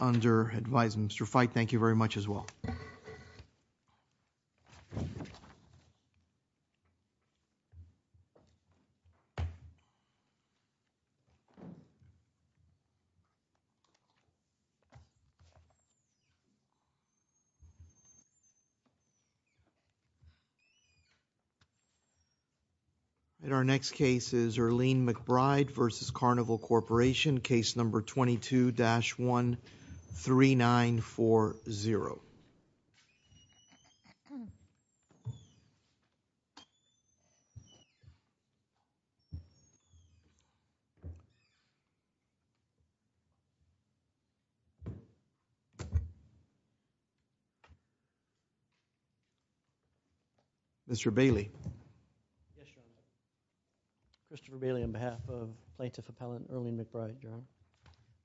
under advise Mr. Fite. Thank you very much as well. At our next case is Earline McBride v. Carnival Corporation, case number 22-13940. Mr. Bailey. Mr. Bailey, on behalf of Plaintiff Appellant Earline McBride,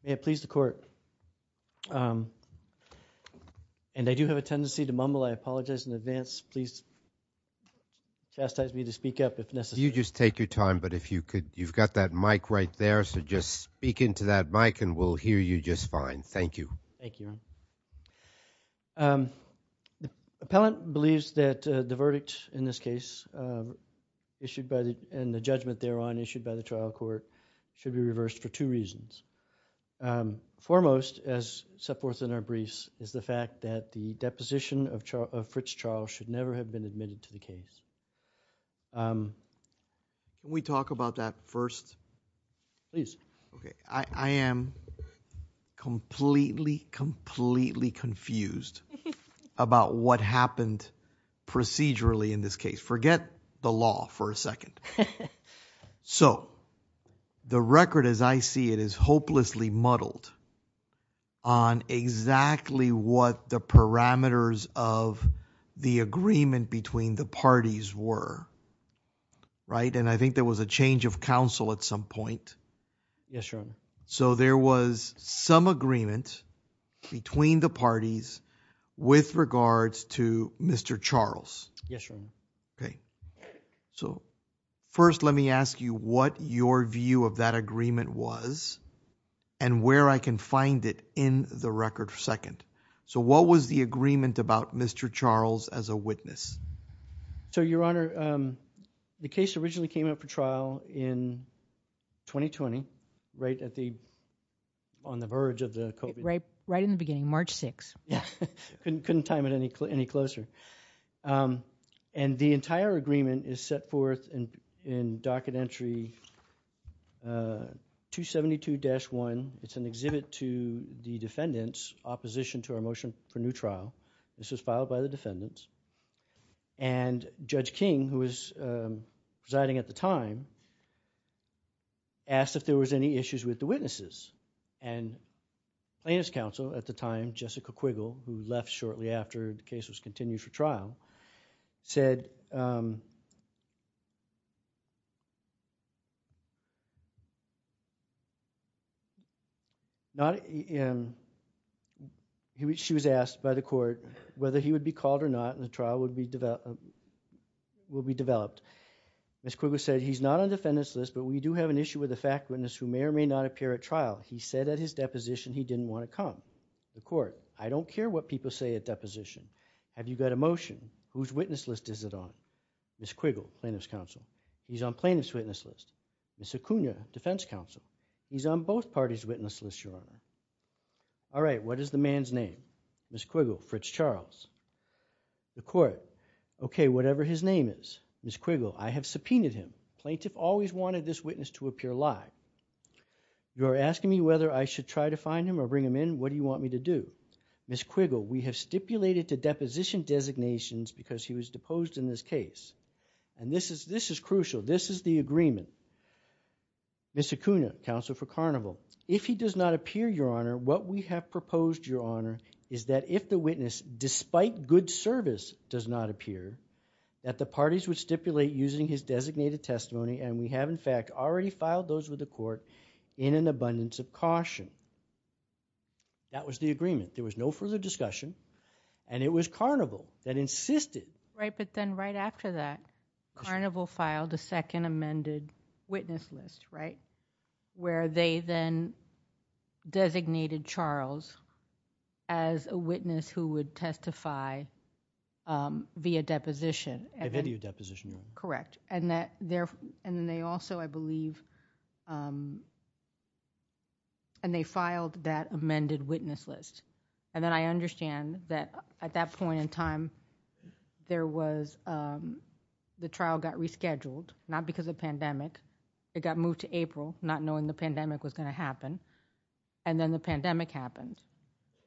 may it please the court, and I do have a tendency to mumble, I apologize in advance, please chastise me to speak up if necessary. You just take your time, but if you could, you've got that mic right there, so just speak into that mic and we'll hear you just fine. Thank you. Thank you. The appellant believes that the verdict in this case issued by the, and the court has been reversed for two reasons. Foremost, as set forth in our briefs, is the fact that the deposition of Fritz Charles should never have been admitted to the case. Can we talk about that first? Please. I am completely, completely confused about what happened procedurally in this case. Forget the law for a second. So, the record as I see it is hopelessly muddled on exactly what the parameters of the agreement between the parties were, right? And I think there was a change of counsel at some point. Yes, Your Honor. So there was some agreement between the parties with regards to Mr. Charles. Yes, Your Honor. Okay. So, first let me ask you what your view of that agreement was and where I can find it in the record second. So, what was the agreement about Mr. Charles as a witness? So, Your Honor, the case originally came up for trial in 2020, right at the, on the verge of the COVID. Right in the beginning, March 6th. Couldn't time it any closer. And the entire agreement is set forth in Docket Entry 272-1. It's an exhibit to the defendants' opposition to our motion for new trial. This was filed by the defendants. And Judge King, who was presiding at the time, asked if there was any issues with the witnesses. And plaintiff's counsel at the time, Jessica Quiggle, who left shortly after the case was continued for trial, said, she was asked by the court whether he would be called or not and the Ms. Quiggle said, he's not on the defendants' list, but we do have an issue with a fact witness who may or may not appear at trial. He said at his deposition he didn't want to come. The court, I don't care what people say at deposition. Have you got a motion? Whose witness list is it on? Ms. Quiggle, plaintiff's counsel. He's on plaintiff's witness list. Ms. Acuna, defense counsel. He's on both parties' witness list, Your Honor. All right, what is the man's name? Ms. Quiggle, Fritz Charles. The court, okay, whatever his name is. Ms. Quiggle, I have subpoenaed him. Plaintiff always wanted this witness to appear live. You are asking me whether I should try to find him or bring him in. What do you want me to do? Ms. Quiggle, we have stipulated to deposition designations because he was deposed in this case. And this is crucial. This is the agreement. Ms. Acuna, counsel for Carnival. If he does not appear, Your Honor, what we have proposed, Your Honor, is that if the witness, despite good service, does not appear, that the parties would stipulate using his designated testimony, and we have in fact already filed those with the court in an abundance of caution. That was the agreement. There was no further discussion, and it was Carnival that insisted. Right, but then right after that, Carnival filed a second amended witness list, right, where they then designated Charles as a witness who would testify via deposition. A video deposition. Correct. And then they also, I believe, and they filed that amended witness list. And then I understand that at that point in time, the trial got rescheduled, not because of pandemic. It got moved to April, not knowing the pandemic was going to happen. And then the pandemic happened.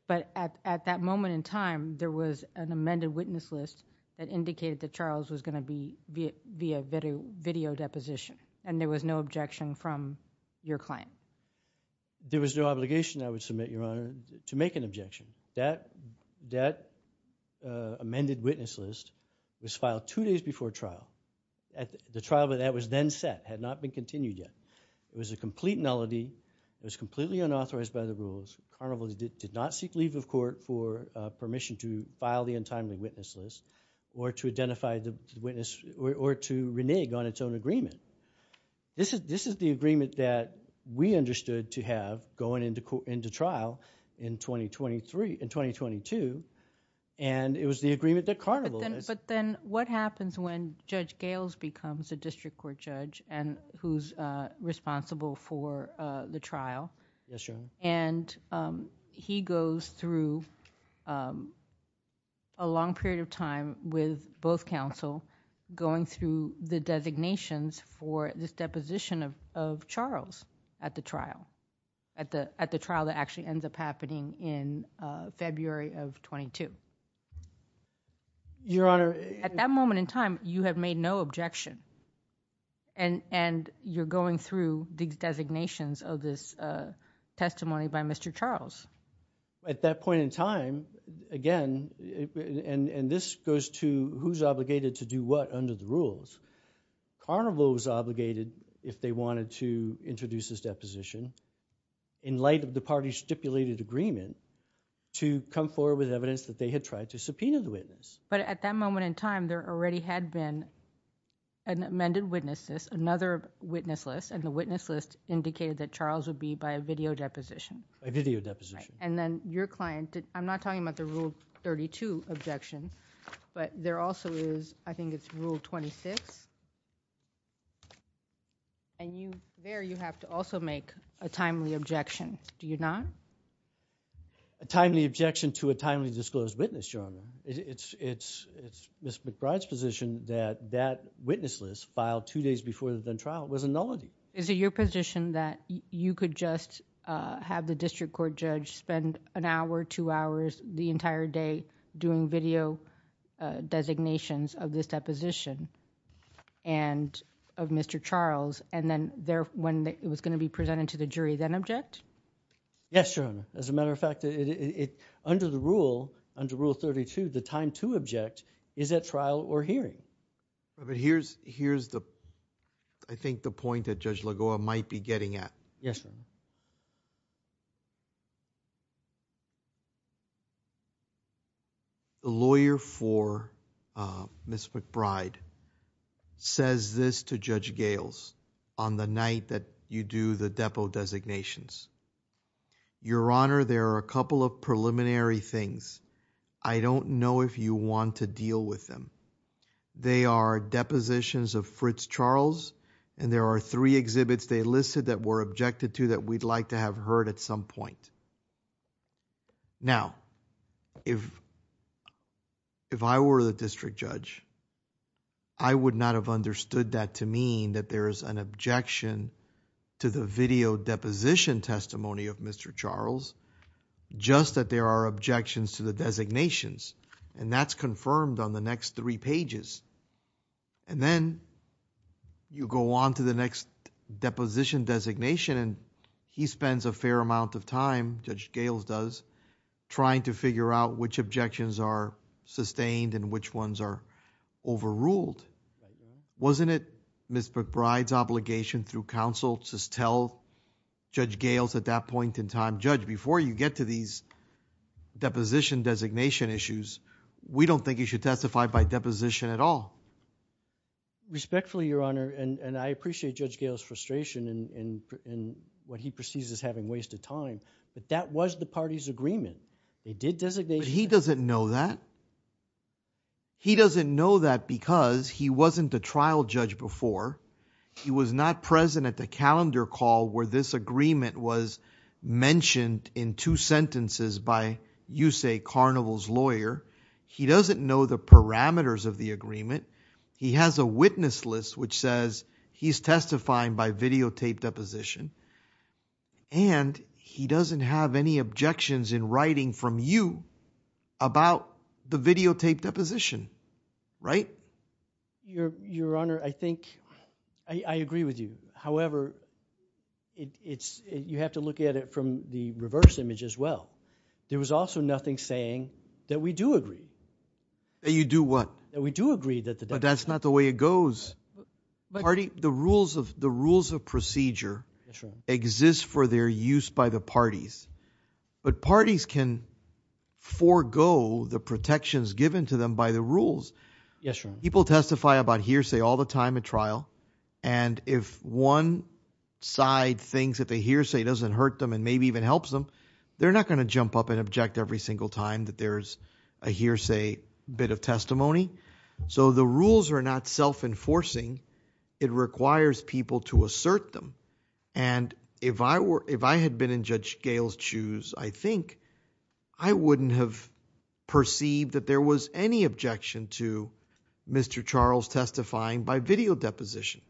But at that moment in time, there was an amended witness list that indicated that Charles was going to be via video deposition, and there was no objection from your client. There was no obligation, I would submit, Your Honor, to make an objection. That amended witness list was filed two days before trial. The trial that was then set had not been continued yet. It was a complete nullity. It was completely unauthorized by the rules. Carnival did not seek leave of court for permission to file the untimely witness list or to identify the witness or to renege on its own agreement. This is the understood to have going into trial in 2022. And it was the agreement that Carnival has. But then what happens when Judge Gales becomes a district court judge and who's responsible for the trial? Yes, Your Honor. And he goes through a long period of time with both counsel going through the designations for this deposition of Charles at the trial, at the at the trial that actually ends up happening in February of 22. Your Honor, at that moment in time, you have made no objection. And and you're going through the designations of this testimony by Mr. Charles. At that point in time, again, and this goes to who's obligated to do what under the rules. Carnival was obligated if they wanted to introduce this deposition in light of the party's stipulated agreement to come forward with evidence that they had tried to subpoena the witness. But at that moment in time, there already had been an amended witness list, another witness list. And the witness list indicated that Charles would be by a video deposition. A video deposition. And then your client, I'm not talking about the Rule 32 objection, but there also is, I think it's Rule 26. And there you have to also make a timely objection. Do you not? A timely objection to a timely disclosed witness, Your Honor. It's Ms. McBride's position that that witness list filed two days before the trial was a nullity. Is it your position that you could just have the district court judge spend an hour, two hours, the entire day doing video designations of this deposition and of Mr. Charles, and then when it was going to be presented to the jury, then object? Yes, Your Honor. As a matter of fact, under the rule, under Rule 32, the time to object is at trial or hearing. But here's the, I think, the point that Judge Lagoa might be getting at. Yes, Your Honor. The lawyer for Ms. McBride says this to Judge Gales on the night that you do the depo designations. Your Honor, there are a couple of preliminary things. I don't know if you want to deal with them. They are depositions of Fritz Charles, and there are three exhibits they listed that were objected to that we'd like to have heard at some point. Now, if I were the district judge, I would not have understood that to mean that there is an objection to the video deposition testimony of Mr. Charles, just that there are objections to the designations, and that's he spends a fair amount of time, Judge Gales does, trying to figure out which objections are sustained and which ones are overruled. Wasn't it Ms. McBride's obligation through counsel to just tell Judge Gales at that point in time, Judge, before you get to these deposition designation issues, we don't think you should testify by deposition at all? Respectfully, Your Honor, and I appreciate Judge Gales' frustration in what he perceives as having wasted time, but that was the party's agreement. They did designate... But he doesn't know that. He doesn't know that because he wasn't a trial judge before. He was not present at the calendar call where this agreement was mentioned in two sentences by, you say, Carnival's lawyer. He doesn't know the parameters of the agreement. He has a witness list which says he's testifying by videotaped deposition, and he doesn't have any objections in writing from you about the videotaped deposition, right? Your Honor, I think... I agree with you. However, you have to look at it from the reverse image as well. There was also nothing saying that we do agree. That you do what? That we do agree that the... But that's not the way it goes. The rules of procedure exist for their use by the parties, but parties can forego the protections given to them by the rules. People testify about hearsay all the time at trial, and if one side thinks that the hearsay doesn't hurt them and maybe even helps them, they're not going to jump up and object every single time that there's a hearsay bit of self-enforcing. It requires people to assert them, and if I had been in Judge Gail's shoes, I think I wouldn't have perceived that there was any objection to Mr. Charles testifying by video deposition.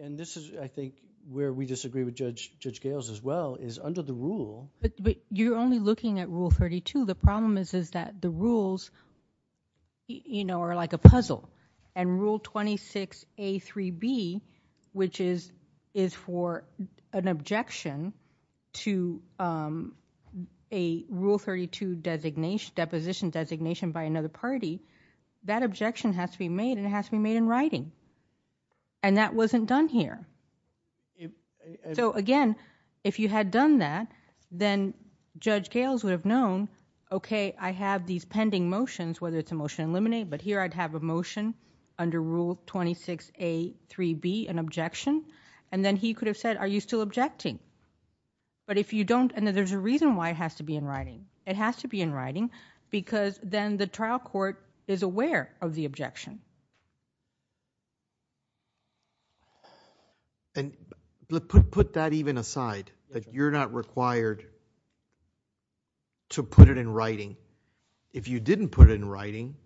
And this is, I think, where we disagree with Judge Gail's as well, is under the rule... But you're only looking at Rule 32. The problem is that the rules are like a puzzle, and Rule 26A3B, which is for an objection to a Rule 32 deposition designation by another party, that objection has to be made, and it has to be made in writing. And that wasn't done here. So again, if you had done that, then Judge Gail's would have known, okay, I have these pending motions, whether it's a motion to eliminate, but here I'd have a motion under Rule 26A3B, an objection, and then he could have said, are you still objecting? But if you don't... And there's a reason why it has to be in writing. It has to be in writing because then the trial court is aware of the objection. And put that even aside, that you're not required to put it in writing. If you didn't put it in writing,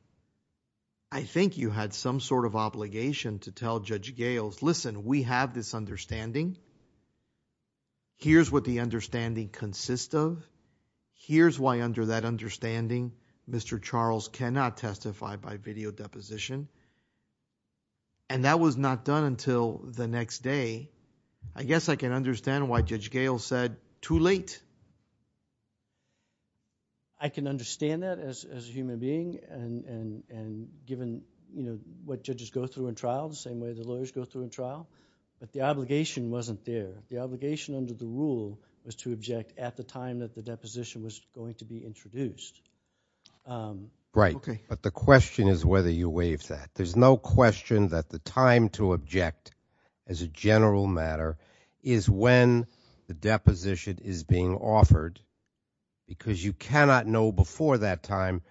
I think you had some sort of obligation to tell Judge Gail's, listen, we have this understanding. Here's what the understanding consists of. Here's why under that understanding, Mr. Charles cannot testify by video deposition. And that was not done until the next day. I guess I can understand why Judge Gail said, too late. I can understand that as a human being, and given what judges go through in trial, the same way the lawyers go through in trial, but the obligation wasn't there. The obligation under the Rule was to object at the time that the deposition was going to be introduced. Right. But the question is whether you waive that. There's no question that the time to object as a general matter is when the deposition is being offered because you cannot know before that time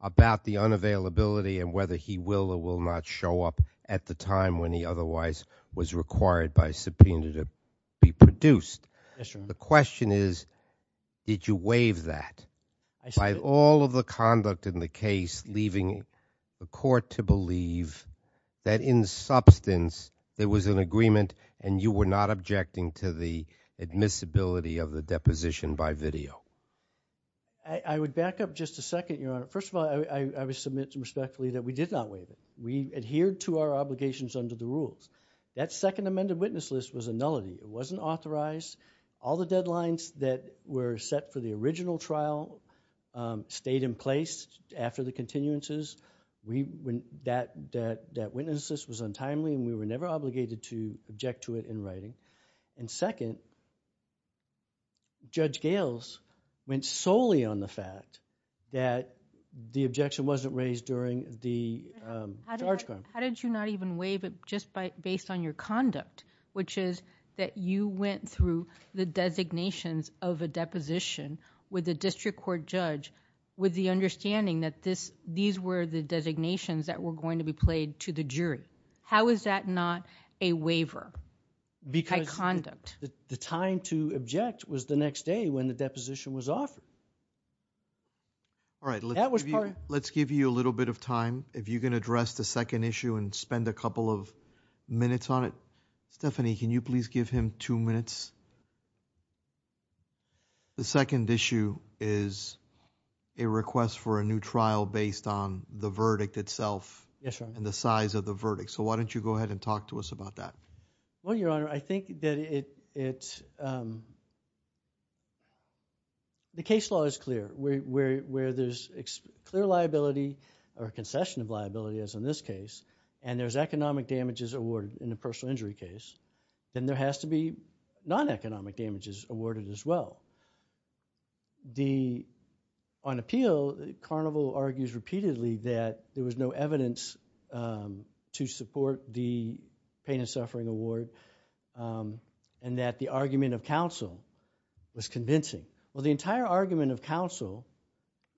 about the unavailability and whether he will or will not show up at the time when he otherwise was required by subpoena to be produced. Yes, Your Honor. The question is did you waive that by all of the conduct in the case, leaving the court to believe that in substance there was an agreement and you were not objecting to the admissibility of the deposition by video? I would back up just a second, Your Honor. First of all, I would submit respectfully that we did not waive it. We adhered to our that second amended witness list was a nullity. It wasn't authorized. All the deadlines that were set for the original trial stayed in place after the continuances. That witness list was untimely and we were never obligated to object to it in writing. And second, Judge Gales went solely on the fact that the objection wasn't raised during the charge. How did you not even waive it just based on your conduct, which is that you went through the designations of a deposition with the district court judge with the understanding that these were the designations that were going to be played to the jury? How is that not a waiver by conduct? The time to object was the next day when the deposition was offered. Let's give you a little bit of time. If you can address the second issue and spend a couple of minutes on it. Stephanie, can you please give him two minutes? The second issue is a request for a new trial based on the verdict itself. Yes, Your Honor. And the size of the verdict. So why don't you go ahead and talk to us about that? Well, Your Honor, I think that the case law is clear where there's clear liability or concession of liability, as in this case, and there's economic damages awarded in the personal injury case, then there has to be non-economic damages awarded as well. On appeal, Carnival argues repeatedly that there was no evidence to support the pain and suffering award and that the argument of counsel was convincing. Well, the entire argument of counsel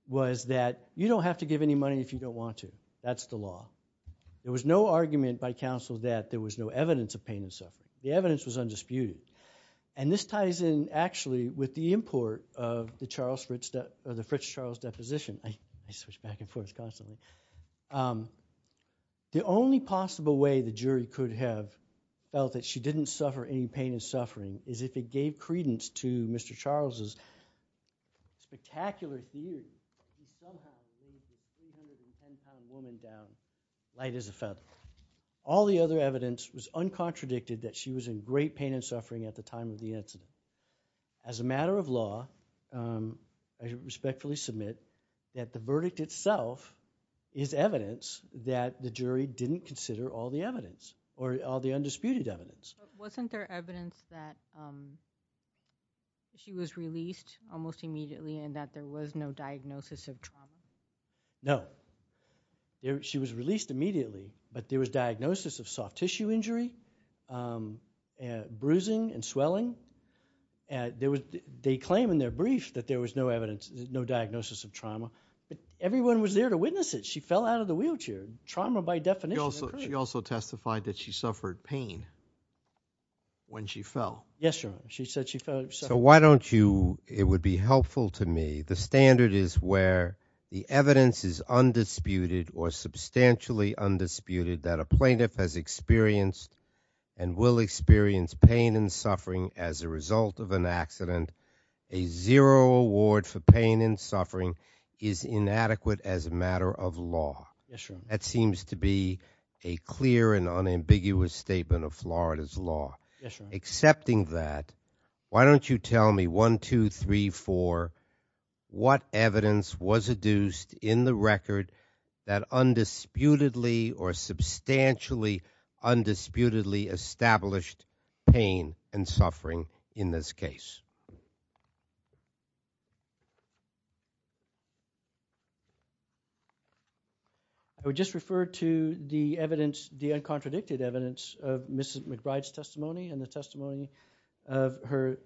was that you don't have to give any money if you don't want to. That's the law. There was no argument by counsel that there was no evidence of pain and suffering. The evidence was undisputed. And this ties in, actually, with the import of the Fritz Charles deposition. I switch back and forth constantly. The only possible way the jury could have felt that she didn't suffer any pain and suffering is if it gave credence to Mr. Charles' spectacular theory that she somehow raised a 310-pound woman down light as a feather. All the other evidence was uncontradicted that she was in great pain and suffering at the time of the incident. As a matter of law, I respectfully submit that the verdict itself is evidence that the jury didn't consider all the undisputed evidence. Wasn't there evidence that she was released almost immediately and that there was no diagnosis of trauma? No. She was released immediately, but there was diagnosis of soft tissue injury, bruising and swelling. They claim in their brief that there was no diagnosis of trauma. Everyone was there to witness it. She fell out of the wheelchair. Trauma by definition. She also testified that she suffered pain when she fell. Yes, Your Honor. She said she fell. So why don't you, it would be helpful to me, the standard is where the evidence is undisputed or substantially undisputed that a plaintiff has experienced and will experience pain and suffering as a result of an accident. A zero award for pain and suffering is inadequate as a matter of law. That seems to be a clear and unambiguous statement of Florida's law. Accepting that, why don't you tell me one, two, three, four, what evidence was adduced in the record that undisputedly or substantially undisputedly established pain and suffering in this case? I would just refer to the evidence, the uncontradicted evidence of Mrs. McBride's testimony and the testimony of her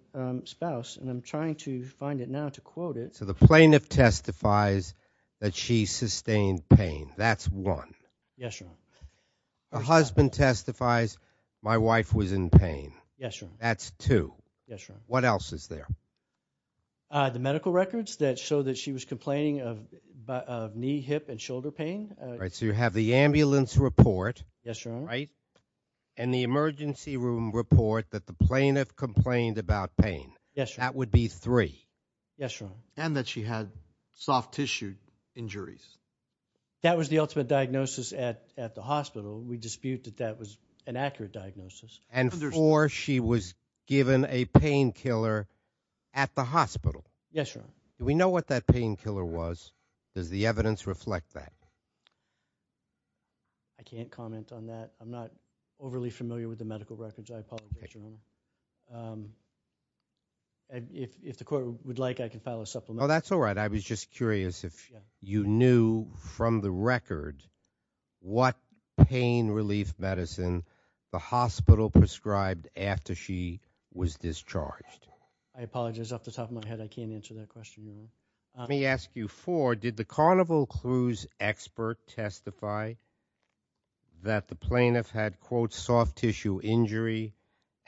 spouse and I'm trying to find it now to quote it. So the plaintiff testifies that she sustained pain. That's one. Yes, Your Honor. Her husband testifies my wife was in pain. Yes, Your Honor. That's two. Yes, Your Honor. What else is there? The medical records that show that she was complaining of knee, hip, and shoulder pain. Right, so you have the ambulance report. Yes, Your Honor. Right, and the emergency room report that the plaintiff complained about pain. Yes, Your Honor. That would be three. Yes, Your Honor. And that she had soft tissue injuries. That was the ultimate diagnosis at the hospital. We dispute that that was an accurate diagnosis. And four, she was given a painkiller at the hospital. Yes, Your Honor. Do we know what that painkiller was? Does the evidence reflect that? I can't comment on that. I'm not overly familiar with the medical records. I apologize, Your Honor. If the court would like, I can file a supplement. That's all right. I was just curious if you knew from the record what pain relief medicine the hospital prescribed after she was discharged. I apologize. Off the top of my head, I can't answer that question. Let me ask you four. Did the Carnival Cruise expert testify that the plaintiff had, quote, soft tissue injury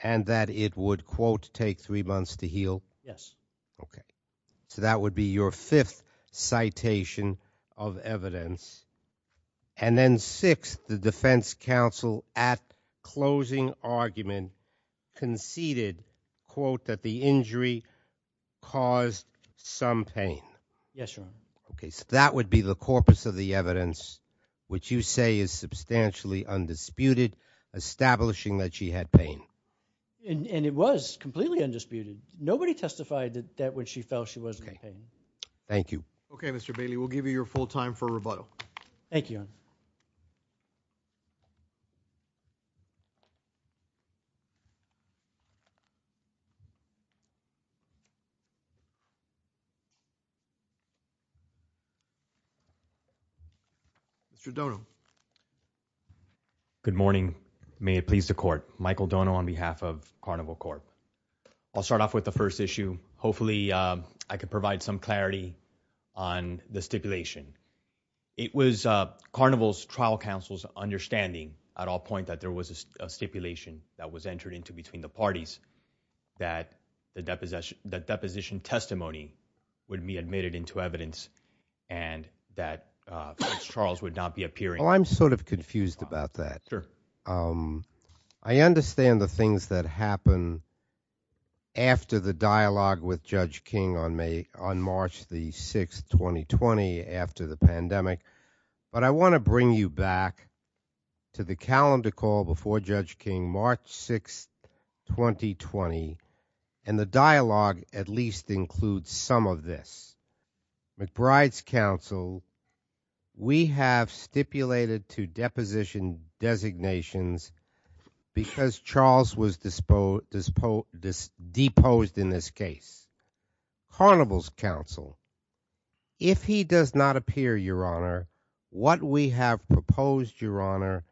and that it would, quote, take three months to heal? Yes. Okay. So that would be your fifth citation of evidence. And then six, the defense counsel at closing argument conceded, quote, that the injury caused some pain. Yes, Your Honor. Okay. So that would be the corpus of the evidence, which you say is substantially undisputed, establishing that she had pain. And it was completely undisputed. Nobody testified that when she fell, she wasn't in pain. Thank you. Okay, Mr. Bailey, we'll give you your full time for rebuttal. Thank you, Your Honor. Mr. Dono. Good morning. May it please the court. Michael Dono on behalf of Carnival Corp. I'll start off with the first issue. Hopefully, I could provide some clarity on the stipulation. It was Carnival's trial counsel's understanding at all point that there was a stipulation that was entered into between the parties that the deposition testimony would be admitted into evidence and that Prince Charles would not be appearing. Oh, I'm sort of confused about that. Sure. I understand the things that happen after the dialogue with Judge King on March the 6th, 2020, after the pandemic. But I want to bring you back to the calendar call before Judge King, March 6th, 2020. And the dialogue at least includes some of this. McBride's counsel, we have stipulated to deposed in this case. Carnival's counsel, if he does not appear, Your Honor, what we have proposed, Your Honor,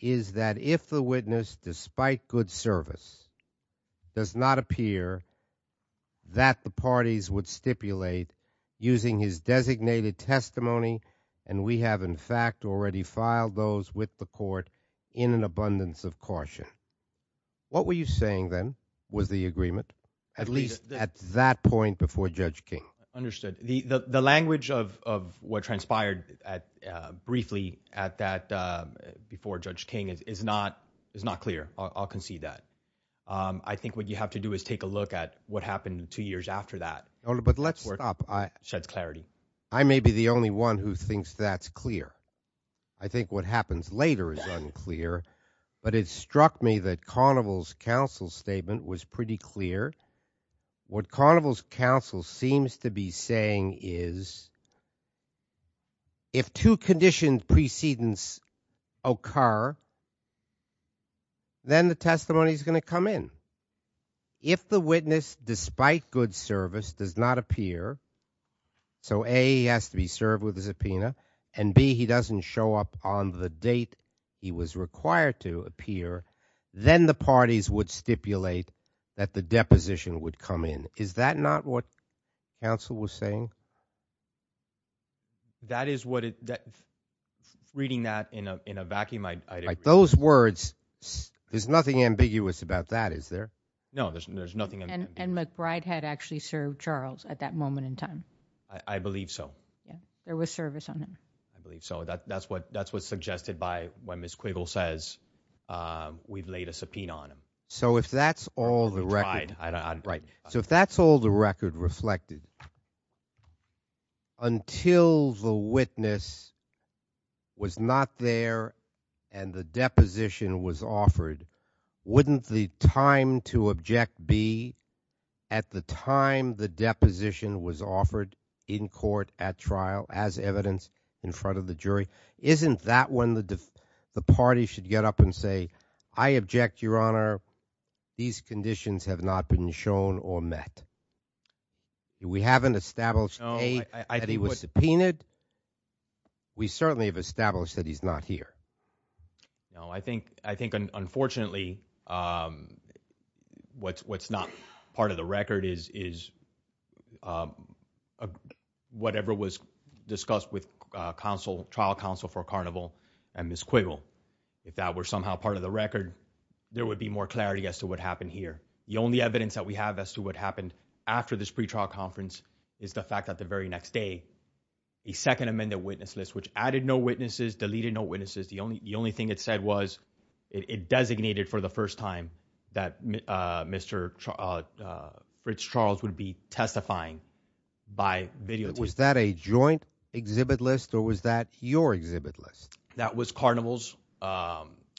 is that if the witness, despite good service, does not appear, that the parties would stipulate using his designated testimony. And we have, in fact, already filed those with the court in an abundance of caution. What were you saying then? Was the agreement at least at that point before Judge King? Understood. The language of what transpired briefly at that before Judge King is not clear. I'll concede that. I think what you have to do is take a look at what happened two years after that. But let's stop. Sheds clarity. I may be the only one who thinks that's clear. I think what happens later is unclear. But it struck me that Carnival's counsel statement, was pretty clear. What Carnival's counsel seems to be saying is, if two conditioned precedents occur, then the testimony is going to come in. If the witness, despite good service, does not appear, so A, he has to be served with a subpoena, and B, he doesn't show up on the date he was required to appear, then the parties would stipulate that the deposition would come in. Is that not what counsel was saying? That is what, reading that in a vacuum, I agree. Those words, there's nothing ambiguous about that, is there? No, there's nothing. And McBride had actually served Charles at that moment in time. I believe so. There was service on him. So that's what's suggested by when Ms. Quiggle says, we've laid a subpoena on him. So if that's all the record reflected, until the witness was not there and the deposition was offered, wouldn't the time to object be at the time the deposition was offered in court, at trial, as evidence in front of the jury? Isn't that when the party should get up and say, I object, Your Honor. These conditions have not been shown or met. We haven't established, A, that he was subpoenaed. We certainly have established that he's not here. No, I think, unfortunately, what's not part of the record is whatever was discussed with trial counsel for Carnival and Ms. Quiggle. If that were somehow part of the record, there would be more clarity as to what happened here. The only evidence that we have as to what happened after this pretrial conference is the fact that the very next day, a second amended witness list, which added no witnesses, deleted no witnesses, the only thing it said was, it designated for the first time that Rich Charles would be testifying by video. Was that a joint exhibit list or was that your exhibit list? That was Carnival's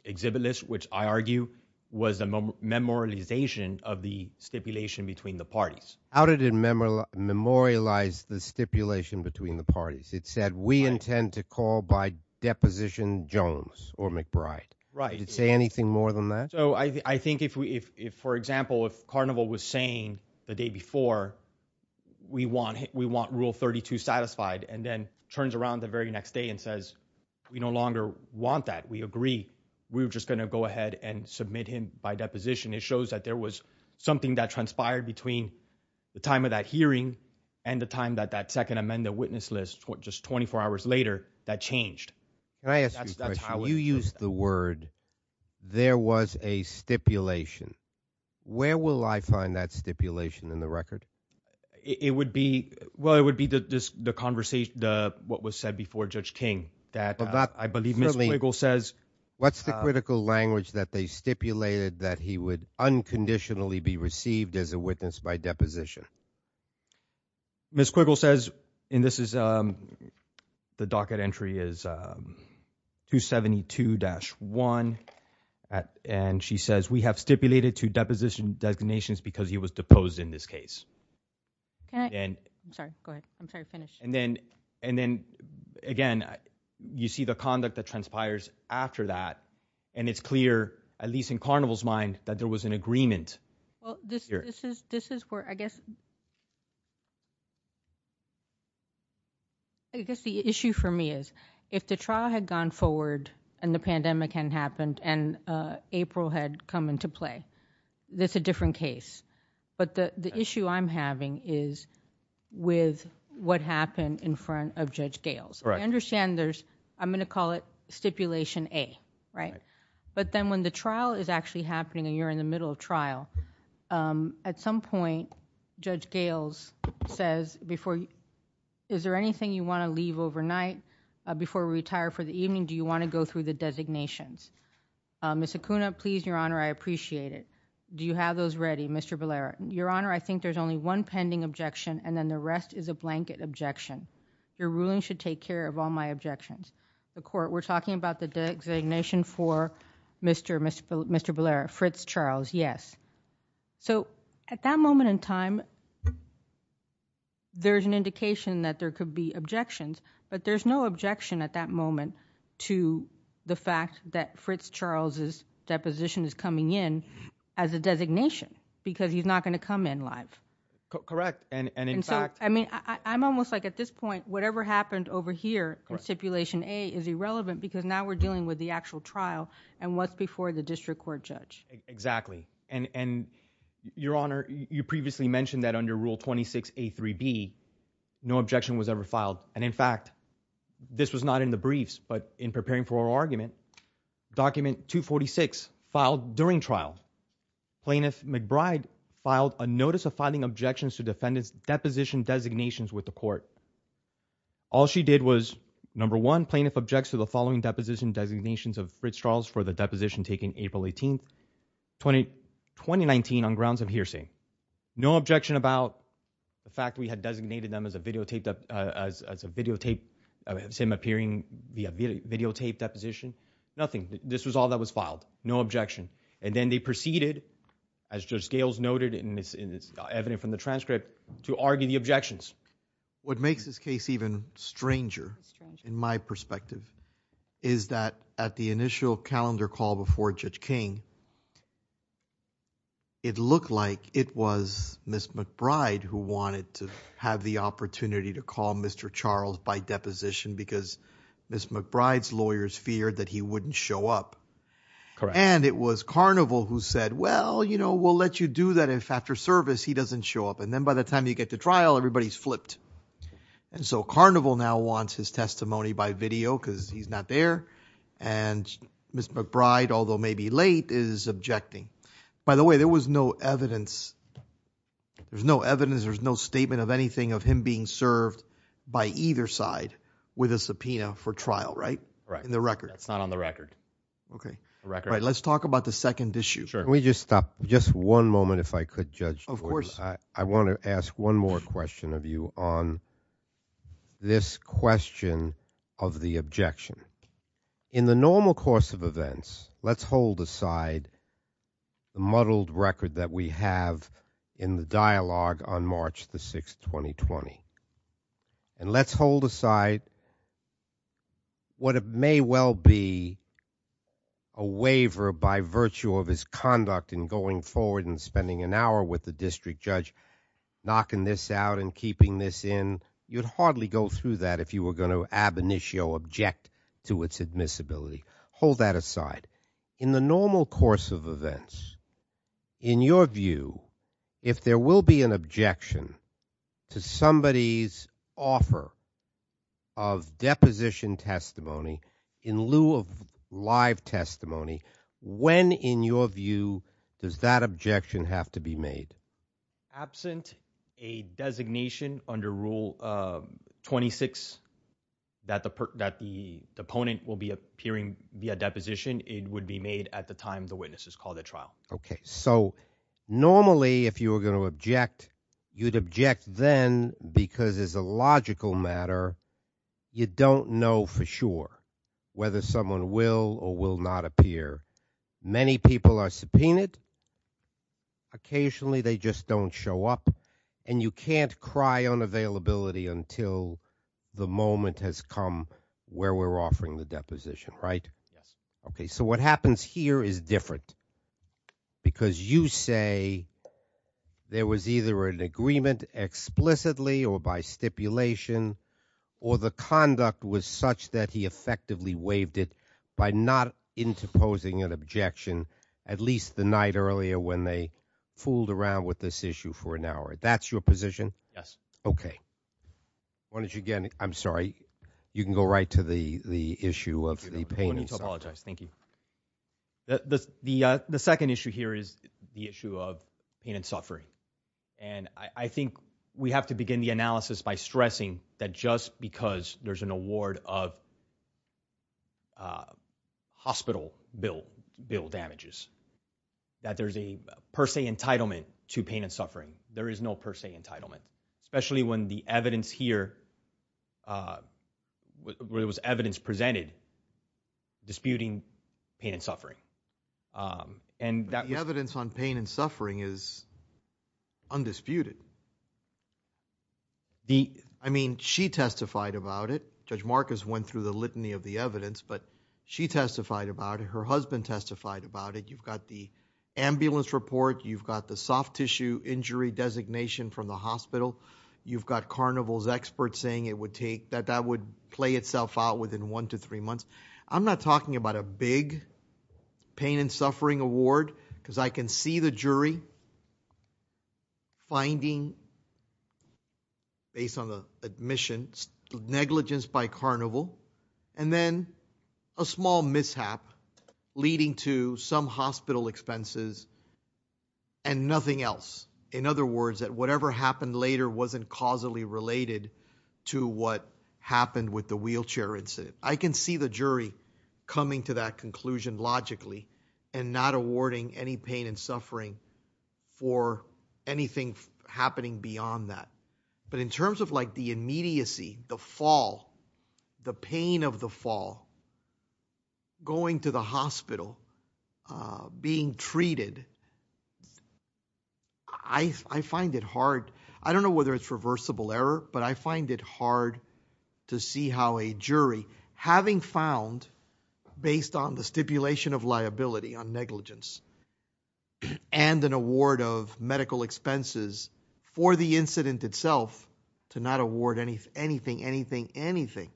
exhibit list, which I argue was a memorialization of the stipulation between the parties. How did it memorialize the stipulation between the parties? It said, we intend to call by Deposition Jones or McBride. Right. Anything more than that? For example, if Carnival was saying the day before, we want rule 32 satisfied, and then turns around the very next day and says, we no longer want that. We agree. We're just going to go ahead and submit him by deposition. It shows that there was something that transpired between the time of that hearing and the time that that second amended witness list, just 24 hours later, that changed. Can I ask you a question? You used the word, there was a stipulation. Where will I find that stipulation in the record? Well, it would be what was said before Judge King. What's the critical language that they stipulated that he would unconditionally be received as a witness by deposition? Ms. Quigle says, and this is the docket entry is 272-1. And she says, we have stipulated to deposition designations because he was deposed in this case. I'm sorry, go ahead. I'm sorry, finish. And then, again, you see the conduct that transpires after that. And it's clear, at least in Carnival's mind, that there was an agreement. Well, this is where I guess the issue for me is, if the trial had gone forward and the pandemic had happened and April had come into play, that's a different case. But the issue I'm having is with what happened in front of Judge Gales. I understand there's, I'm going to call it stipulation A, right? But then when the trial is actually happening and you're in the middle of trial, at some point, Judge Gales says, is there anything you want to leave overnight before we retire for the evening? Do you want to go through the designations? Ms. Acuna, please, Your Honor, I appreciate it. Do you have those ready, Mr. Valera? Your Honor, I think there's only one pending objection, and then the rest is a blanket objection. Your ruling should take care of all my objections. The court, we're talking about the designation for Mr. Valera, Fritz Charles, yes. So at that moment in time, there's an indication that there could be objections, but there's no objection at that moment to the fact that Fritz Charles's deposition is coming in as a designation because he's not going to come in live. Correct. And in fact— I'm almost like at this point, whatever happened over here in stipulation A is irrelevant because now we're dealing with the actual trial and what's before the district court, Judge. Exactly. And Your Honor, you previously mentioned that under Rule 26A3B, no objection was ever filed. And in fact, this was not in the briefs, but in preparing for our argument, Document 246 filed during trial. Plaintiff McBride filed a notice of filing objections to defendant's deposition designations with the court. All she did was, number one, plaintiff objects to the following deposition designations of Fritz Charles for the deposition taken April 18, 2019 on grounds of hearsay. No objection about the fact we had designated them as a videotaped, as him appearing via videotaped deposition. Nothing. This was all that was filed. No objection. And then they proceeded, as Judge Scales noted in this evidence from the transcript, to argue the objections. What makes this case even stranger, in my perspective, is that at the initial calendar call before Judge King, it looked like it was Ms. McBride who wanted to have the opportunity to call Mr. Charles by deposition because Ms. McBride's lawyers feared that he wouldn't show up. Correct. And it was Carnival who said, well, you know, we'll let you do that if after service he doesn't show up. And then by the time you get to trial, everybody's flipped. And so Carnival now wants his testimony by video because he's not there. And Ms. McBride, although maybe late, is objecting. By the way, there was no evidence. There's no evidence. There's no statement of anything of him being served by either side with a subpoena for trial, right? Right. In the record. That's not on the record. Okay. The record. Let's talk about the second issue. Can we just stop just one moment, if I could, Judge? Of course. I want to ask one more question of you on this question of the objection. In the normal course of events, let's hold aside the muddled record that we have in the dialogue on March the 6th, 2020. And let's hold aside what may well be a waiver by virtue of his conduct in going forward and spending an hour with the district judge knocking this out and keeping this in. You'd hardly go through that if you were going to ab initio object to its admissibility. Hold that aside. In the normal course of events, in your view, if there will be an objection to somebody's offer of deposition testimony in lieu of live testimony, when, in your view, does that objection have to be made? Absent a designation under Rule 26 that the opponent will be appearing via deposition, it would be made at the time the witness is called at trial. Okay. So, normally, if you were going to object, you'd object then because, as a logical matter, you don't know for sure whether someone will or will not appear. Many people are subpoenaed. Occasionally, they just don't show up. And you can't cry unavailability until the moment has come where we're offering the deposition, right? Yes. Okay. So what happens here is different. Because you say there was either an agreement explicitly or by stipulation, or the conduct was such that he effectively waived it by not interposing an objection at least the night earlier when they fooled around with this issue for an hour. That's your position? Yes. Okay. Why don't you get, I'm sorry, you can go right to the issue of the painting side. Thank you. The second issue here is the issue of pain and suffering. And I think we have to begin the analysis by stressing that just because there's an award of hospital bill damages, that there's a per se entitlement to pain and suffering. There is no per se entitlement. Especially when the evidence here, where there was evidence presented, disputing pain and suffering. The evidence on pain and suffering is undisputed. I mean, she testified about it. Judge Marcus went through the litany of the evidence, but she testified about it. Her husband testified about it. You've got the ambulance report. You've got the soft tissue injury designation from the hospital. You've got Carnival's experts saying it would take, that that would play itself out within one to three months. I'm not talking about a big pain and suffering award, because I can see the jury finding, based on the admission, negligence by Carnival. And then a small mishap leading to some hospital expenses and nothing else. In other words, that whatever happened later wasn't causally related to what happened with the wheelchair incident. I can see the jury coming to that conclusion logically and not awarding any pain and suffering for anything happening beyond that. But in terms of like the immediacy, the fall, the pain of the fall, going to the hospital, being treated, I find it hard. I don't know whether it's reversible error, but I find it hard to see how a jury, having found, based on the stipulation of liability on negligence and an award of medical expenses for the incident itself, to not award anything, anything, anything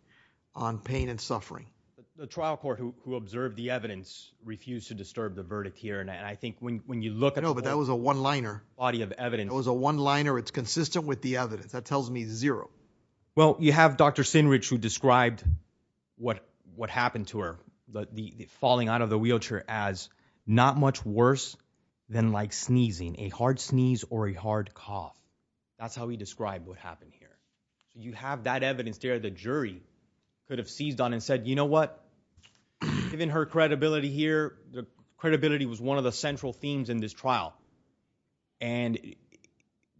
on pain and suffering. But the trial court who observed the evidence refused to disturb the verdict here. And I think when you look at... No, but that was a one-liner. ...body of evidence. It was a one-liner. It's consistent with the evidence. That tells me zero. Well, you have Dr. Sinrich who described what happened to her, falling out of the wheelchair as not much worse than like sneezing, a hard sneeze or a hard cough. That's how he described what happened here. You have that evidence there. The jury could have seized on and said, you know what? Given her credibility here, the credibility was one of the central themes in this trial. And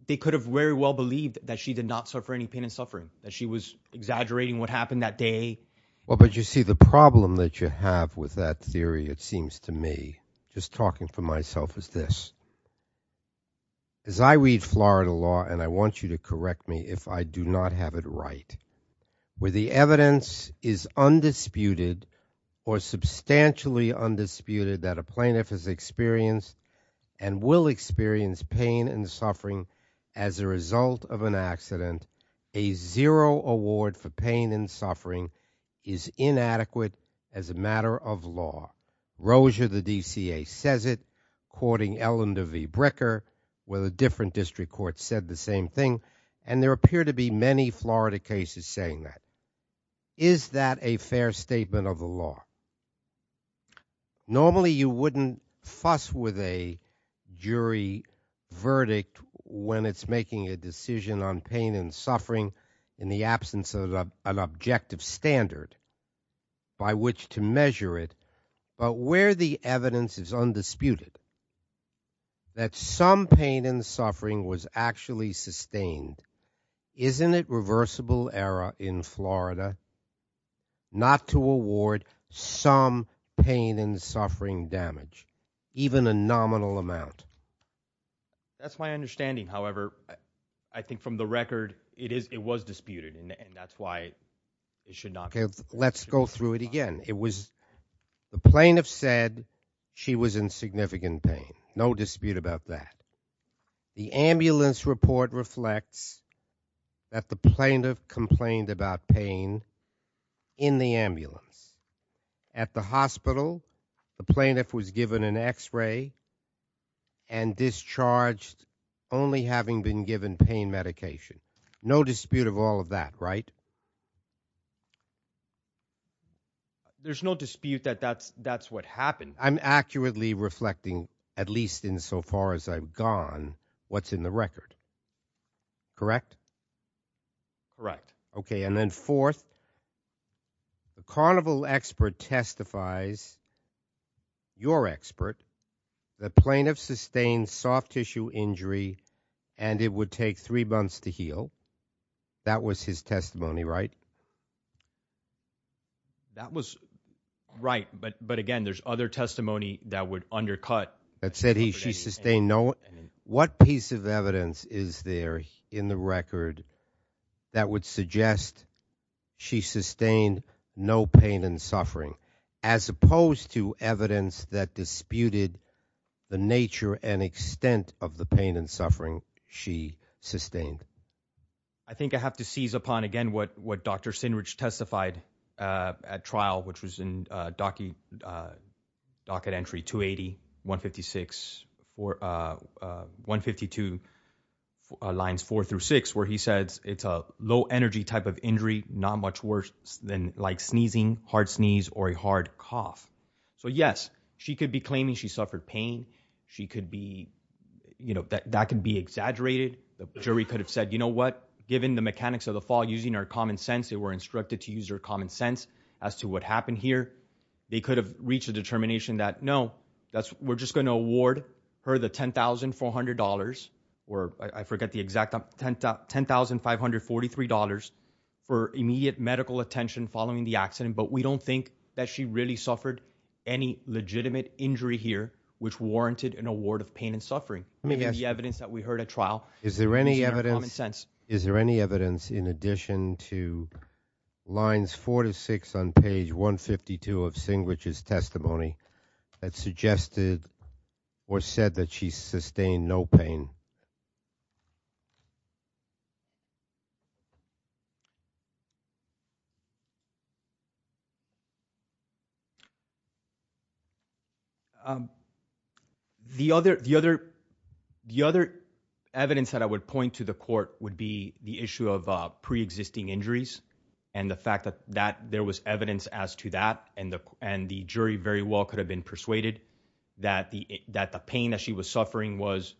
they could have very well believed that she did not suffer any pain and suffering, that she was exaggerating what happened that day. Well, but you see, the problem that you have with that theory, it seems to me, just talking for myself is this. As I read Florida law, and I want you to correct me if I do not have it right, where the evidence is undisputed or substantially undisputed that a plaintiff has experienced and will experience pain and suffering as a result of an accident, a zero award for pain and suffering is inadequate as a matter of law. Rozier, the DCA says it, courting Ellender v. Bricker where the different district courts said the same thing. And there appear to be many Florida cases saying that. Is that a fair statement of the law? Normally, you wouldn't fuss with a jury verdict when it's making a decision on pain and suffering in the absence of an objective standard by which to measure it. But where the evidence is undisputed, that some pain and suffering was actually sustained, isn't it reversible error in Florida not to award some pain and suffering damage, even a nominal amount? That's my understanding. However, I think from the record, it was disputed. And that's why it should not be. Let's go through it again. The plaintiff said she was in significant pain. No dispute about that. The ambulance report reflects that the plaintiff complained about pain in the ambulance. At the hospital, the plaintiff was given an x-ray. And discharged only having been given pain medication. No dispute of all of that, right? There's no dispute that that's what happened. I'm accurately reflecting, at least in so far as I've gone, what's in the record. Correct? Correct. Okay. And then fourth, the carnival expert testifies, your expert, the plaintiff sustained soft tissue injury and it would take three months to heal. That was his testimony, right? That was right. But again, there's other testimony that would undercut- That said she sustained no. What piece of evidence is there in the record that would suggest she sustained no pain and suffering? As opposed to evidence that disputed the nature and extent of the pain and suffering she sustained. I think I have to seize upon, again, what Dr. Sinrich testified at trial, which was in docket entry 280, 156, or 152 lines four through six, where he said it's a low energy type of injury, not much worse than like sneezing, hard sneeze, or a hard cough. So yes, she could be claiming she suffered pain. She could be, you know, that can be exaggerated. The jury could have said, you know what? Given the mechanics of the fall, using our common sense, they were instructed to use our common sense as to what happened here. They could have reached a determination that no, we're just going to award her the $10,400 or I forget the exact, $10,543 for immediate medical attention following the accident. But we don't think that she really suffered any legitimate injury here, which warranted an award of pain and suffering. Maybe the evidence that we heard at trial- Is there any evidence, is there any evidence in addition to lines four to six on page 152 of Sinrich's testimony that suggested or said that she sustained no pain? The other, the other, the other evidence that I would point to the court would be the issue of pre-existing injuries. And the fact that that there was evidence as to that, and the jury very well could have been persuaded that the pain that she was suffering was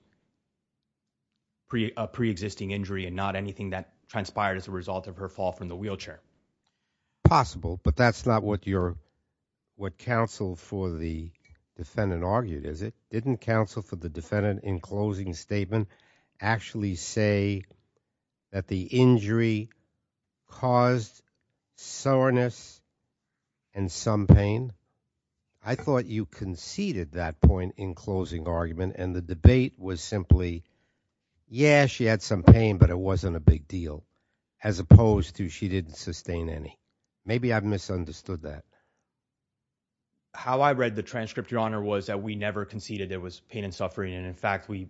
a pre-existing injury and not anything that transpired as a result of her fall from the wheelchair. Possible, but that's not what your, what counsel for the defendant argued, is it? Didn't counsel for the defendant in closing statement actually say that the injury caused soreness and some pain? I thought you conceded that point in closing argument and the debate was simply, yeah, she had some pain, but it wasn't a big deal, as opposed to she didn't sustain any. Maybe I've misunderstood that. How I read the transcript, Your Honor, was that we never conceded it was pain and suffering. And in fact, we,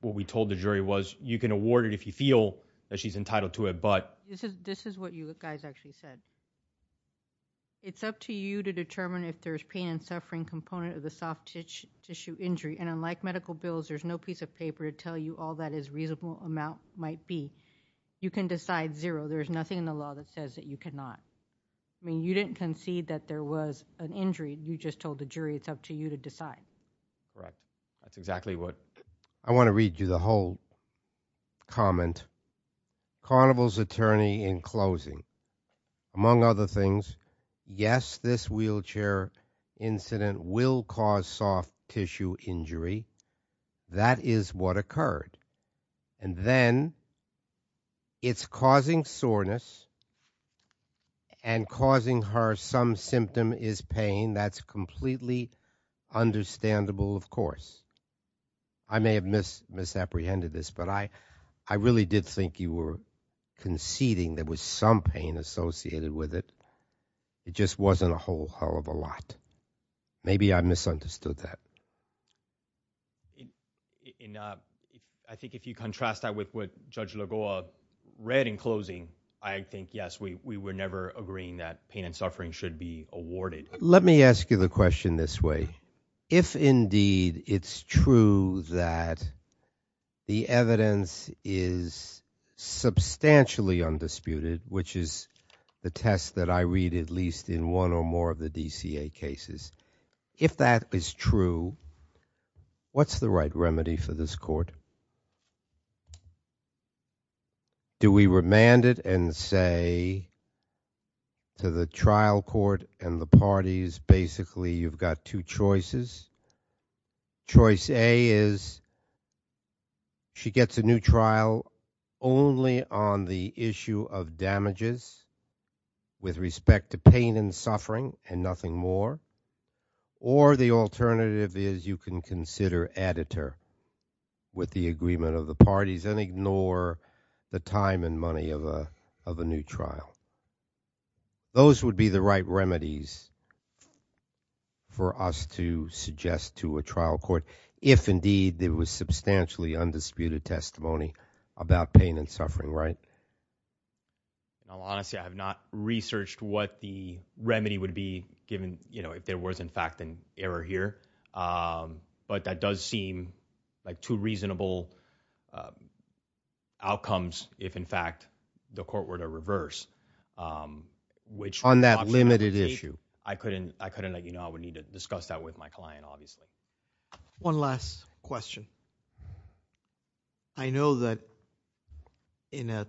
what we told the jury was, you can award it if you feel that she's entitled to it, but- This is, this is what you guys actually said. It's up to you to determine if there's pain and suffering component of the soft tissue injury. And unlike medical bills, there's no piece of paper to tell you all that is reasonable amount might be, you can decide zero. There's nothing in the law that says that you cannot. I mean, you didn't concede that there was an injury. You just told the jury it's up to you to decide. Right. That's exactly what- I want to read you the whole comment. Carnival's attorney in closing, among other things, yes, this wheelchair incident will cause soft tissue injury. That is what occurred. And then, it's causing soreness and causing her some symptom is pain. That's completely understandable, of course. I may have misapprehended this, but I really did think you were conceding there was some pain associated with it. It just wasn't a whole hell of a lot. Maybe I misunderstood that. I think if you contrast that with what Judge Lagoa read in closing, I think, yes, we were never agreeing that pain and suffering should be awarded. Let me ask you the question this way. If indeed it's true that the evidence is substantially undisputed, which is the test that I read at least in one or more of the DCA cases, if that is true, what's the right remedy for this court? Do we remand it and say to the trial court and the parties, basically, you've got two choices? Choice A is she gets a new trial only on the issue of damages with respect to pain and suffering and nothing more. Or the alternative is you can consider editor with the agreement of the parties and ignore the time and money of a new trial. So those would be the right remedies for us to suggest to a trial court if indeed there was substantially undisputed testimony about pain and suffering, right? Now, honestly, I have not researched what the remedy would be given, you know, if there was, in fact, an error here. But that does seem like two reasonable outcomes if, in fact, the court were to reverse. On that limited issue. I couldn't, you know, I would need to discuss that with my client, obviously. One last question. I know that in an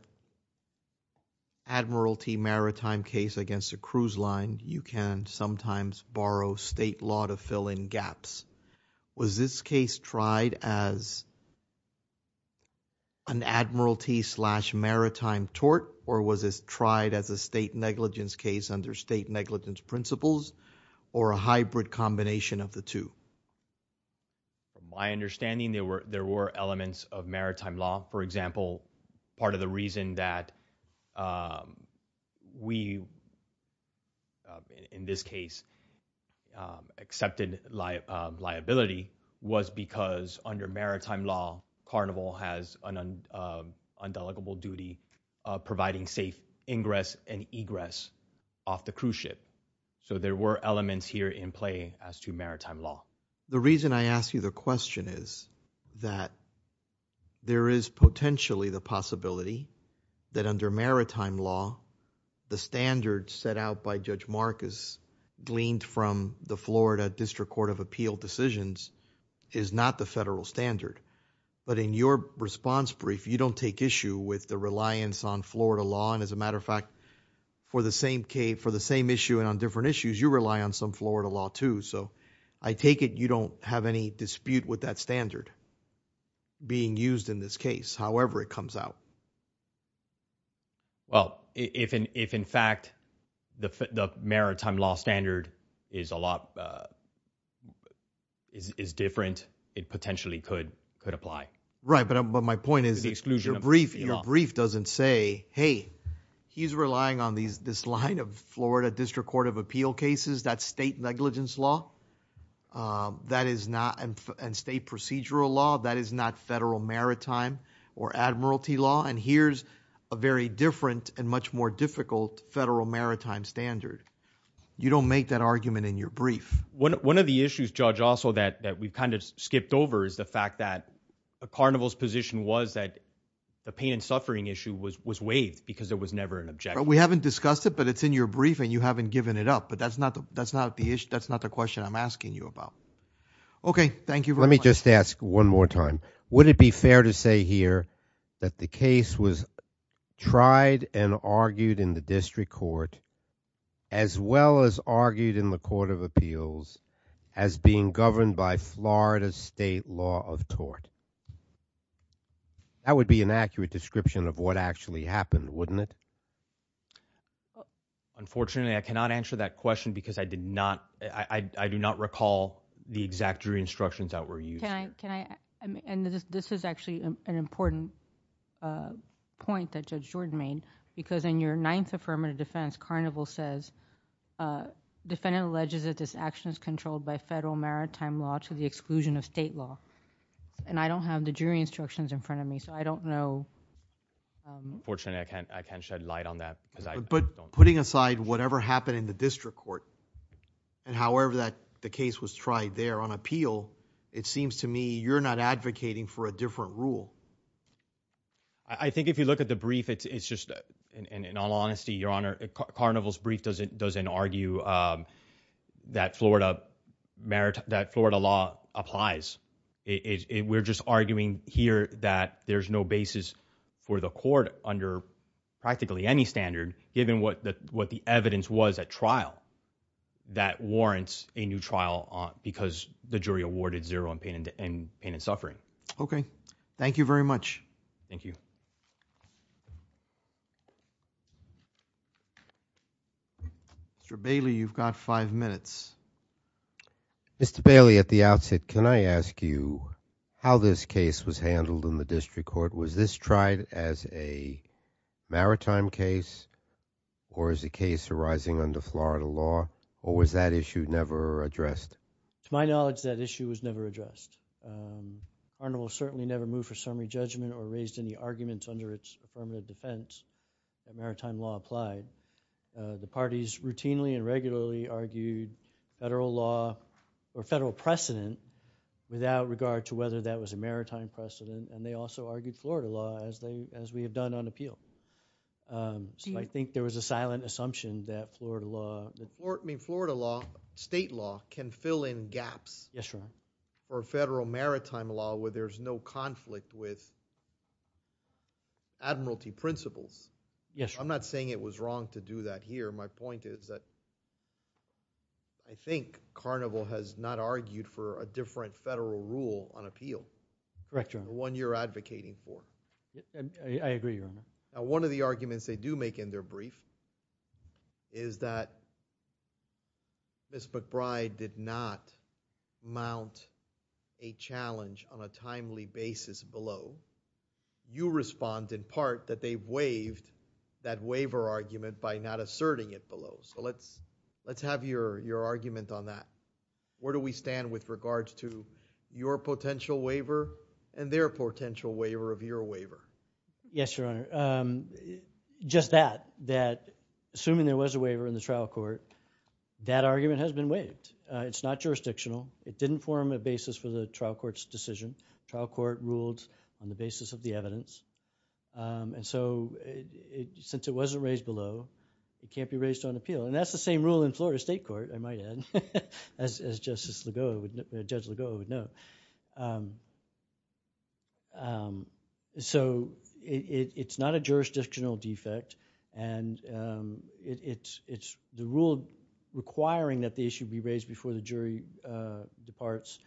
admiralty maritime case against a cruise line, you can sometimes borrow state law to fill in gaps. Was this case tried as an admiralty slash maritime tort or was this tried as a state negligence case under state negligence principles or a hybrid combination of the two? My understanding, there were elements of maritime law. For example, part of the reason that we, in this case, accepted liability was because under maritime law, Carnival has an undeligible duty of providing safe ingress and egress off the cruise ship. So there were elements here in play as to maritime law. The reason I ask you the question is that there is potentially the possibility that under maritime law, the standards set out by Judge Marcus gleaned from the Florida District Court of Appeal decisions is not the federal standard. But in your response brief, you don't take issue with the reliance on Florida law. And as a matter of fact, for the same issue and on different issues, you rely on some Florida law, too. So I take it you don't have any dispute with that standard being used in this case, however it comes out. Well, if in fact, the maritime law standard is a lot, is different, it potentially could apply. Right. But my point is, your brief doesn't say, hey, he's relying on this line of Florida District Court of Appeal cases, that's state negligence law, and state procedural law. That is not federal maritime or admiralty law. Here's a very different and much more difficult federal maritime standard. You don't make that argument in your brief. One of the issues, Judge, also that we've kind of skipped over is the fact that the carnival's position was that the pain and suffering issue was waived because it was never an objective. We haven't discussed it, but it's in your brief and you haven't given it up. But that's not the issue. That's not the question I'm asking you about. Okay, thank you. Let me just ask one more time. Would it be fair to say here that the case was tried and argued in the District Court, as well as argued in the Court of Appeals, as being governed by Florida's state law of tort? That would be an accurate description of what actually happened, wouldn't it? Unfortunately, I cannot answer that question because I did not, I do not recall the exact jury instructions that were used. Can I, and this is actually an important point that Judge Jordan made, because in your Ninth Affirmative Defense, carnival says, defendant alleges that this action is controlled by federal maritime law to the exclusion of state law. And I don't have the jury instructions in front of me, so I don't know. Unfortunately, I can't shed light on that because I don't know. But putting aside whatever happened in the District Court, and however that the case was tried there on appeal, it seems to me you're not advocating for a different rule. I think if you look at the brief, it's just, in all honesty, Your Honor, carnival's brief doesn't argue that Florida law applies. We're just arguing here that there's no basis for the court under practically any standard, given what the evidence was at trial, that warrants a new trial because the jury awarded zero on pain and suffering. Okay. Thank you very much. Thank you. Mr. Bailey, you've got five minutes. Mr. Bailey, at the outset, can I ask you how this case was handled in the District Court? Was this tried as a maritime case or as a case arising under Florida law, or was that issue never addressed? To my knowledge, that issue was never addressed. Carnival certainly never moved for summary judgment or raised any arguments under its affirmative defense that maritime law applied. The parties routinely and regularly argued federal law or federal precedent without regard to whether that was a maritime precedent. They also argued Florida law as we have done on appeal. I think there was a silent assumption that Florida law... Florida law, state law, can fill in gaps for federal maritime law where there's no conflict with admiralty principles. I'm not saying it was wrong to do that here. My point is that I think Carnival has not argued for a different federal rule on appeal. Correct, Your Honor. One you're advocating for. I agree, Your Honor. One of the arguments they do make in their brief is that Ms. McBride did not mount a challenge on a timely basis below. You respond in part that they waived that waiver argument by not asserting it below. So, let's have your argument on that. Where do we stand with regards to your potential waiver? And their potential waiver of your waiver? Yes, Your Honor. Just that, that assuming there was a waiver in the trial court, that argument has been waived. It's not jurisdictional. It didn't form a basis for the trial court's decision. Trial court ruled on the basis of the evidence. And so, since it wasn't raised below, it can't be raised on appeal. And that's the same rule in Florida State Court, I might add, as Judge Lagoa would know. So, it's not a jurisdictional defect. And it's the rule requiring that the issue be raised before the jury departs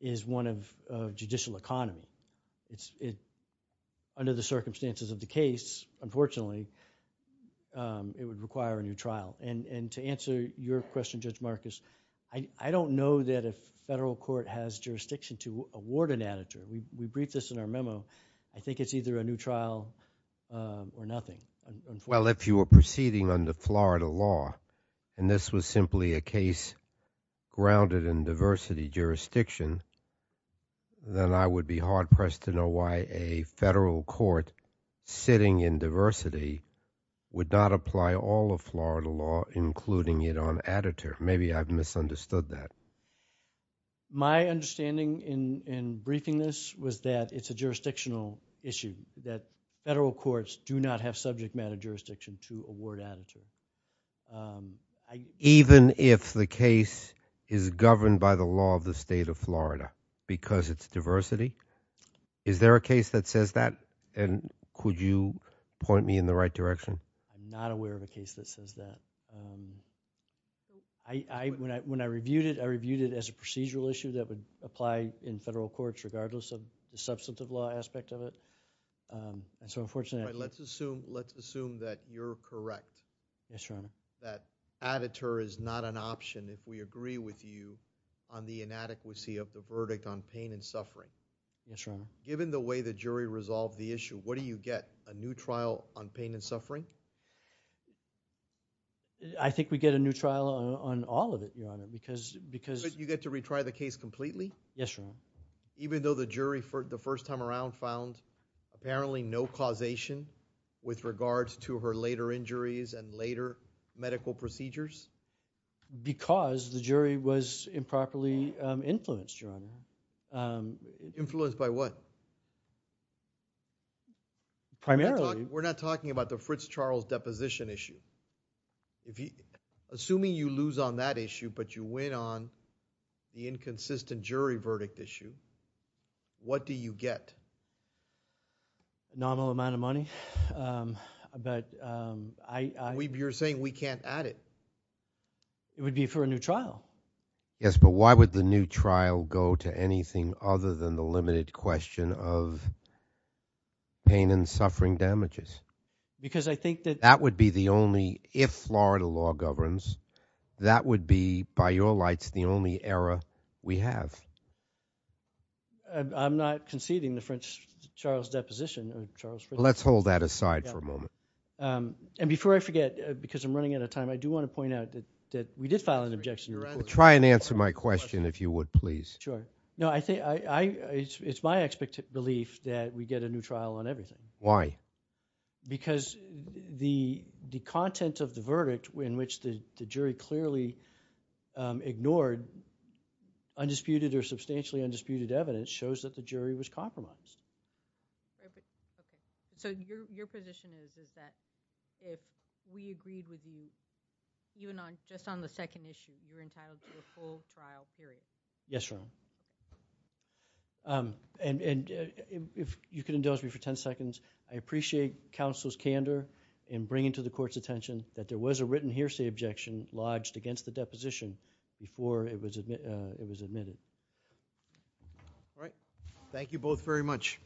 is one of judicial economy. Under the circumstances of the case, unfortunately, it would require a new trial. And to answer your question, Judge Marcus, I don't know that a federal court has We briefed this in our memo. I think it's either a new trial or nothing. Well, if you were proceeding under Florida law, and this was simply a case grounded in diversity jurisdiction, then I would be hard-pressed to know why a federal court sitting in diversity would not apply all of Florida law, including it on additive. Maybe I've misunderstood that. So, my understanding in briefing this was that it's a jurisdictional issue, that federal courts do not have subject matter jurisdiction to award additive. Even if the case is governed by the law of the state of Florida because it's diversity? Is there a case that says that? And could you point me in the right direction? I'm not aware of a case that says that. When I reviewed it, I reviewed it as a procedural issue that would apply in federal courts, regardless of the substantive law aspect of it. And so, unfortunately... Let's assume that you're correct. Yes, Your Honor. That additive is not an option if we agree with you on the inadequacy of the verdict on pain and suffering. Yes, Your Honor. Given the way the jury resolved the issue, what do you get? A new trial on pain and suffering? I think we get a new trial on all of it, Your Honor, because... But you get to retry the case completely? Yes, Your Honor. Even though the jury, for the first time around, found apparently no causation with regards to her later injuries and later medical procedures? Because the jury was improperly influenced, Your Honor. Influenced by what? Primarily... We're not talking about the Fritz trial, deposition issue. Assuming you lose on that issue, but you win on the inconsistent jury verdict issue, what do you get? A nominal amount of money, but I... You're saying we can't add it? It would be for a new trial. Yes, but why would the new trial go to anything other than the limited question of pain and suffering damages? Because I think that... That would be the only... If Florida law governs, that would be, by your lights, the only error we have. I'm not conceding the French Charles deposition. Let's hold that aside for a moment. And before I forget, because I'm running out of time, I do want to point out that we did file an objection. Try and answer my question, if you would, please. Sure. It's my belief that we get a new trial on everything. Why? Because the content of the verdict, in which the jury clearly ignored undisputed or substantially undisputed evidence, shows that the jury was compromised. So your position is that if we agreed with you, even just on the second issue, you're entitled to a full trial period? Yes, Your Honor. And if you could indulge me for 10 seconds, I appreciate counsel's candor in bringing to the court's attention that there was a written hearsay objection lodged against the deposition before it was admitted. All right. Thank you both very much.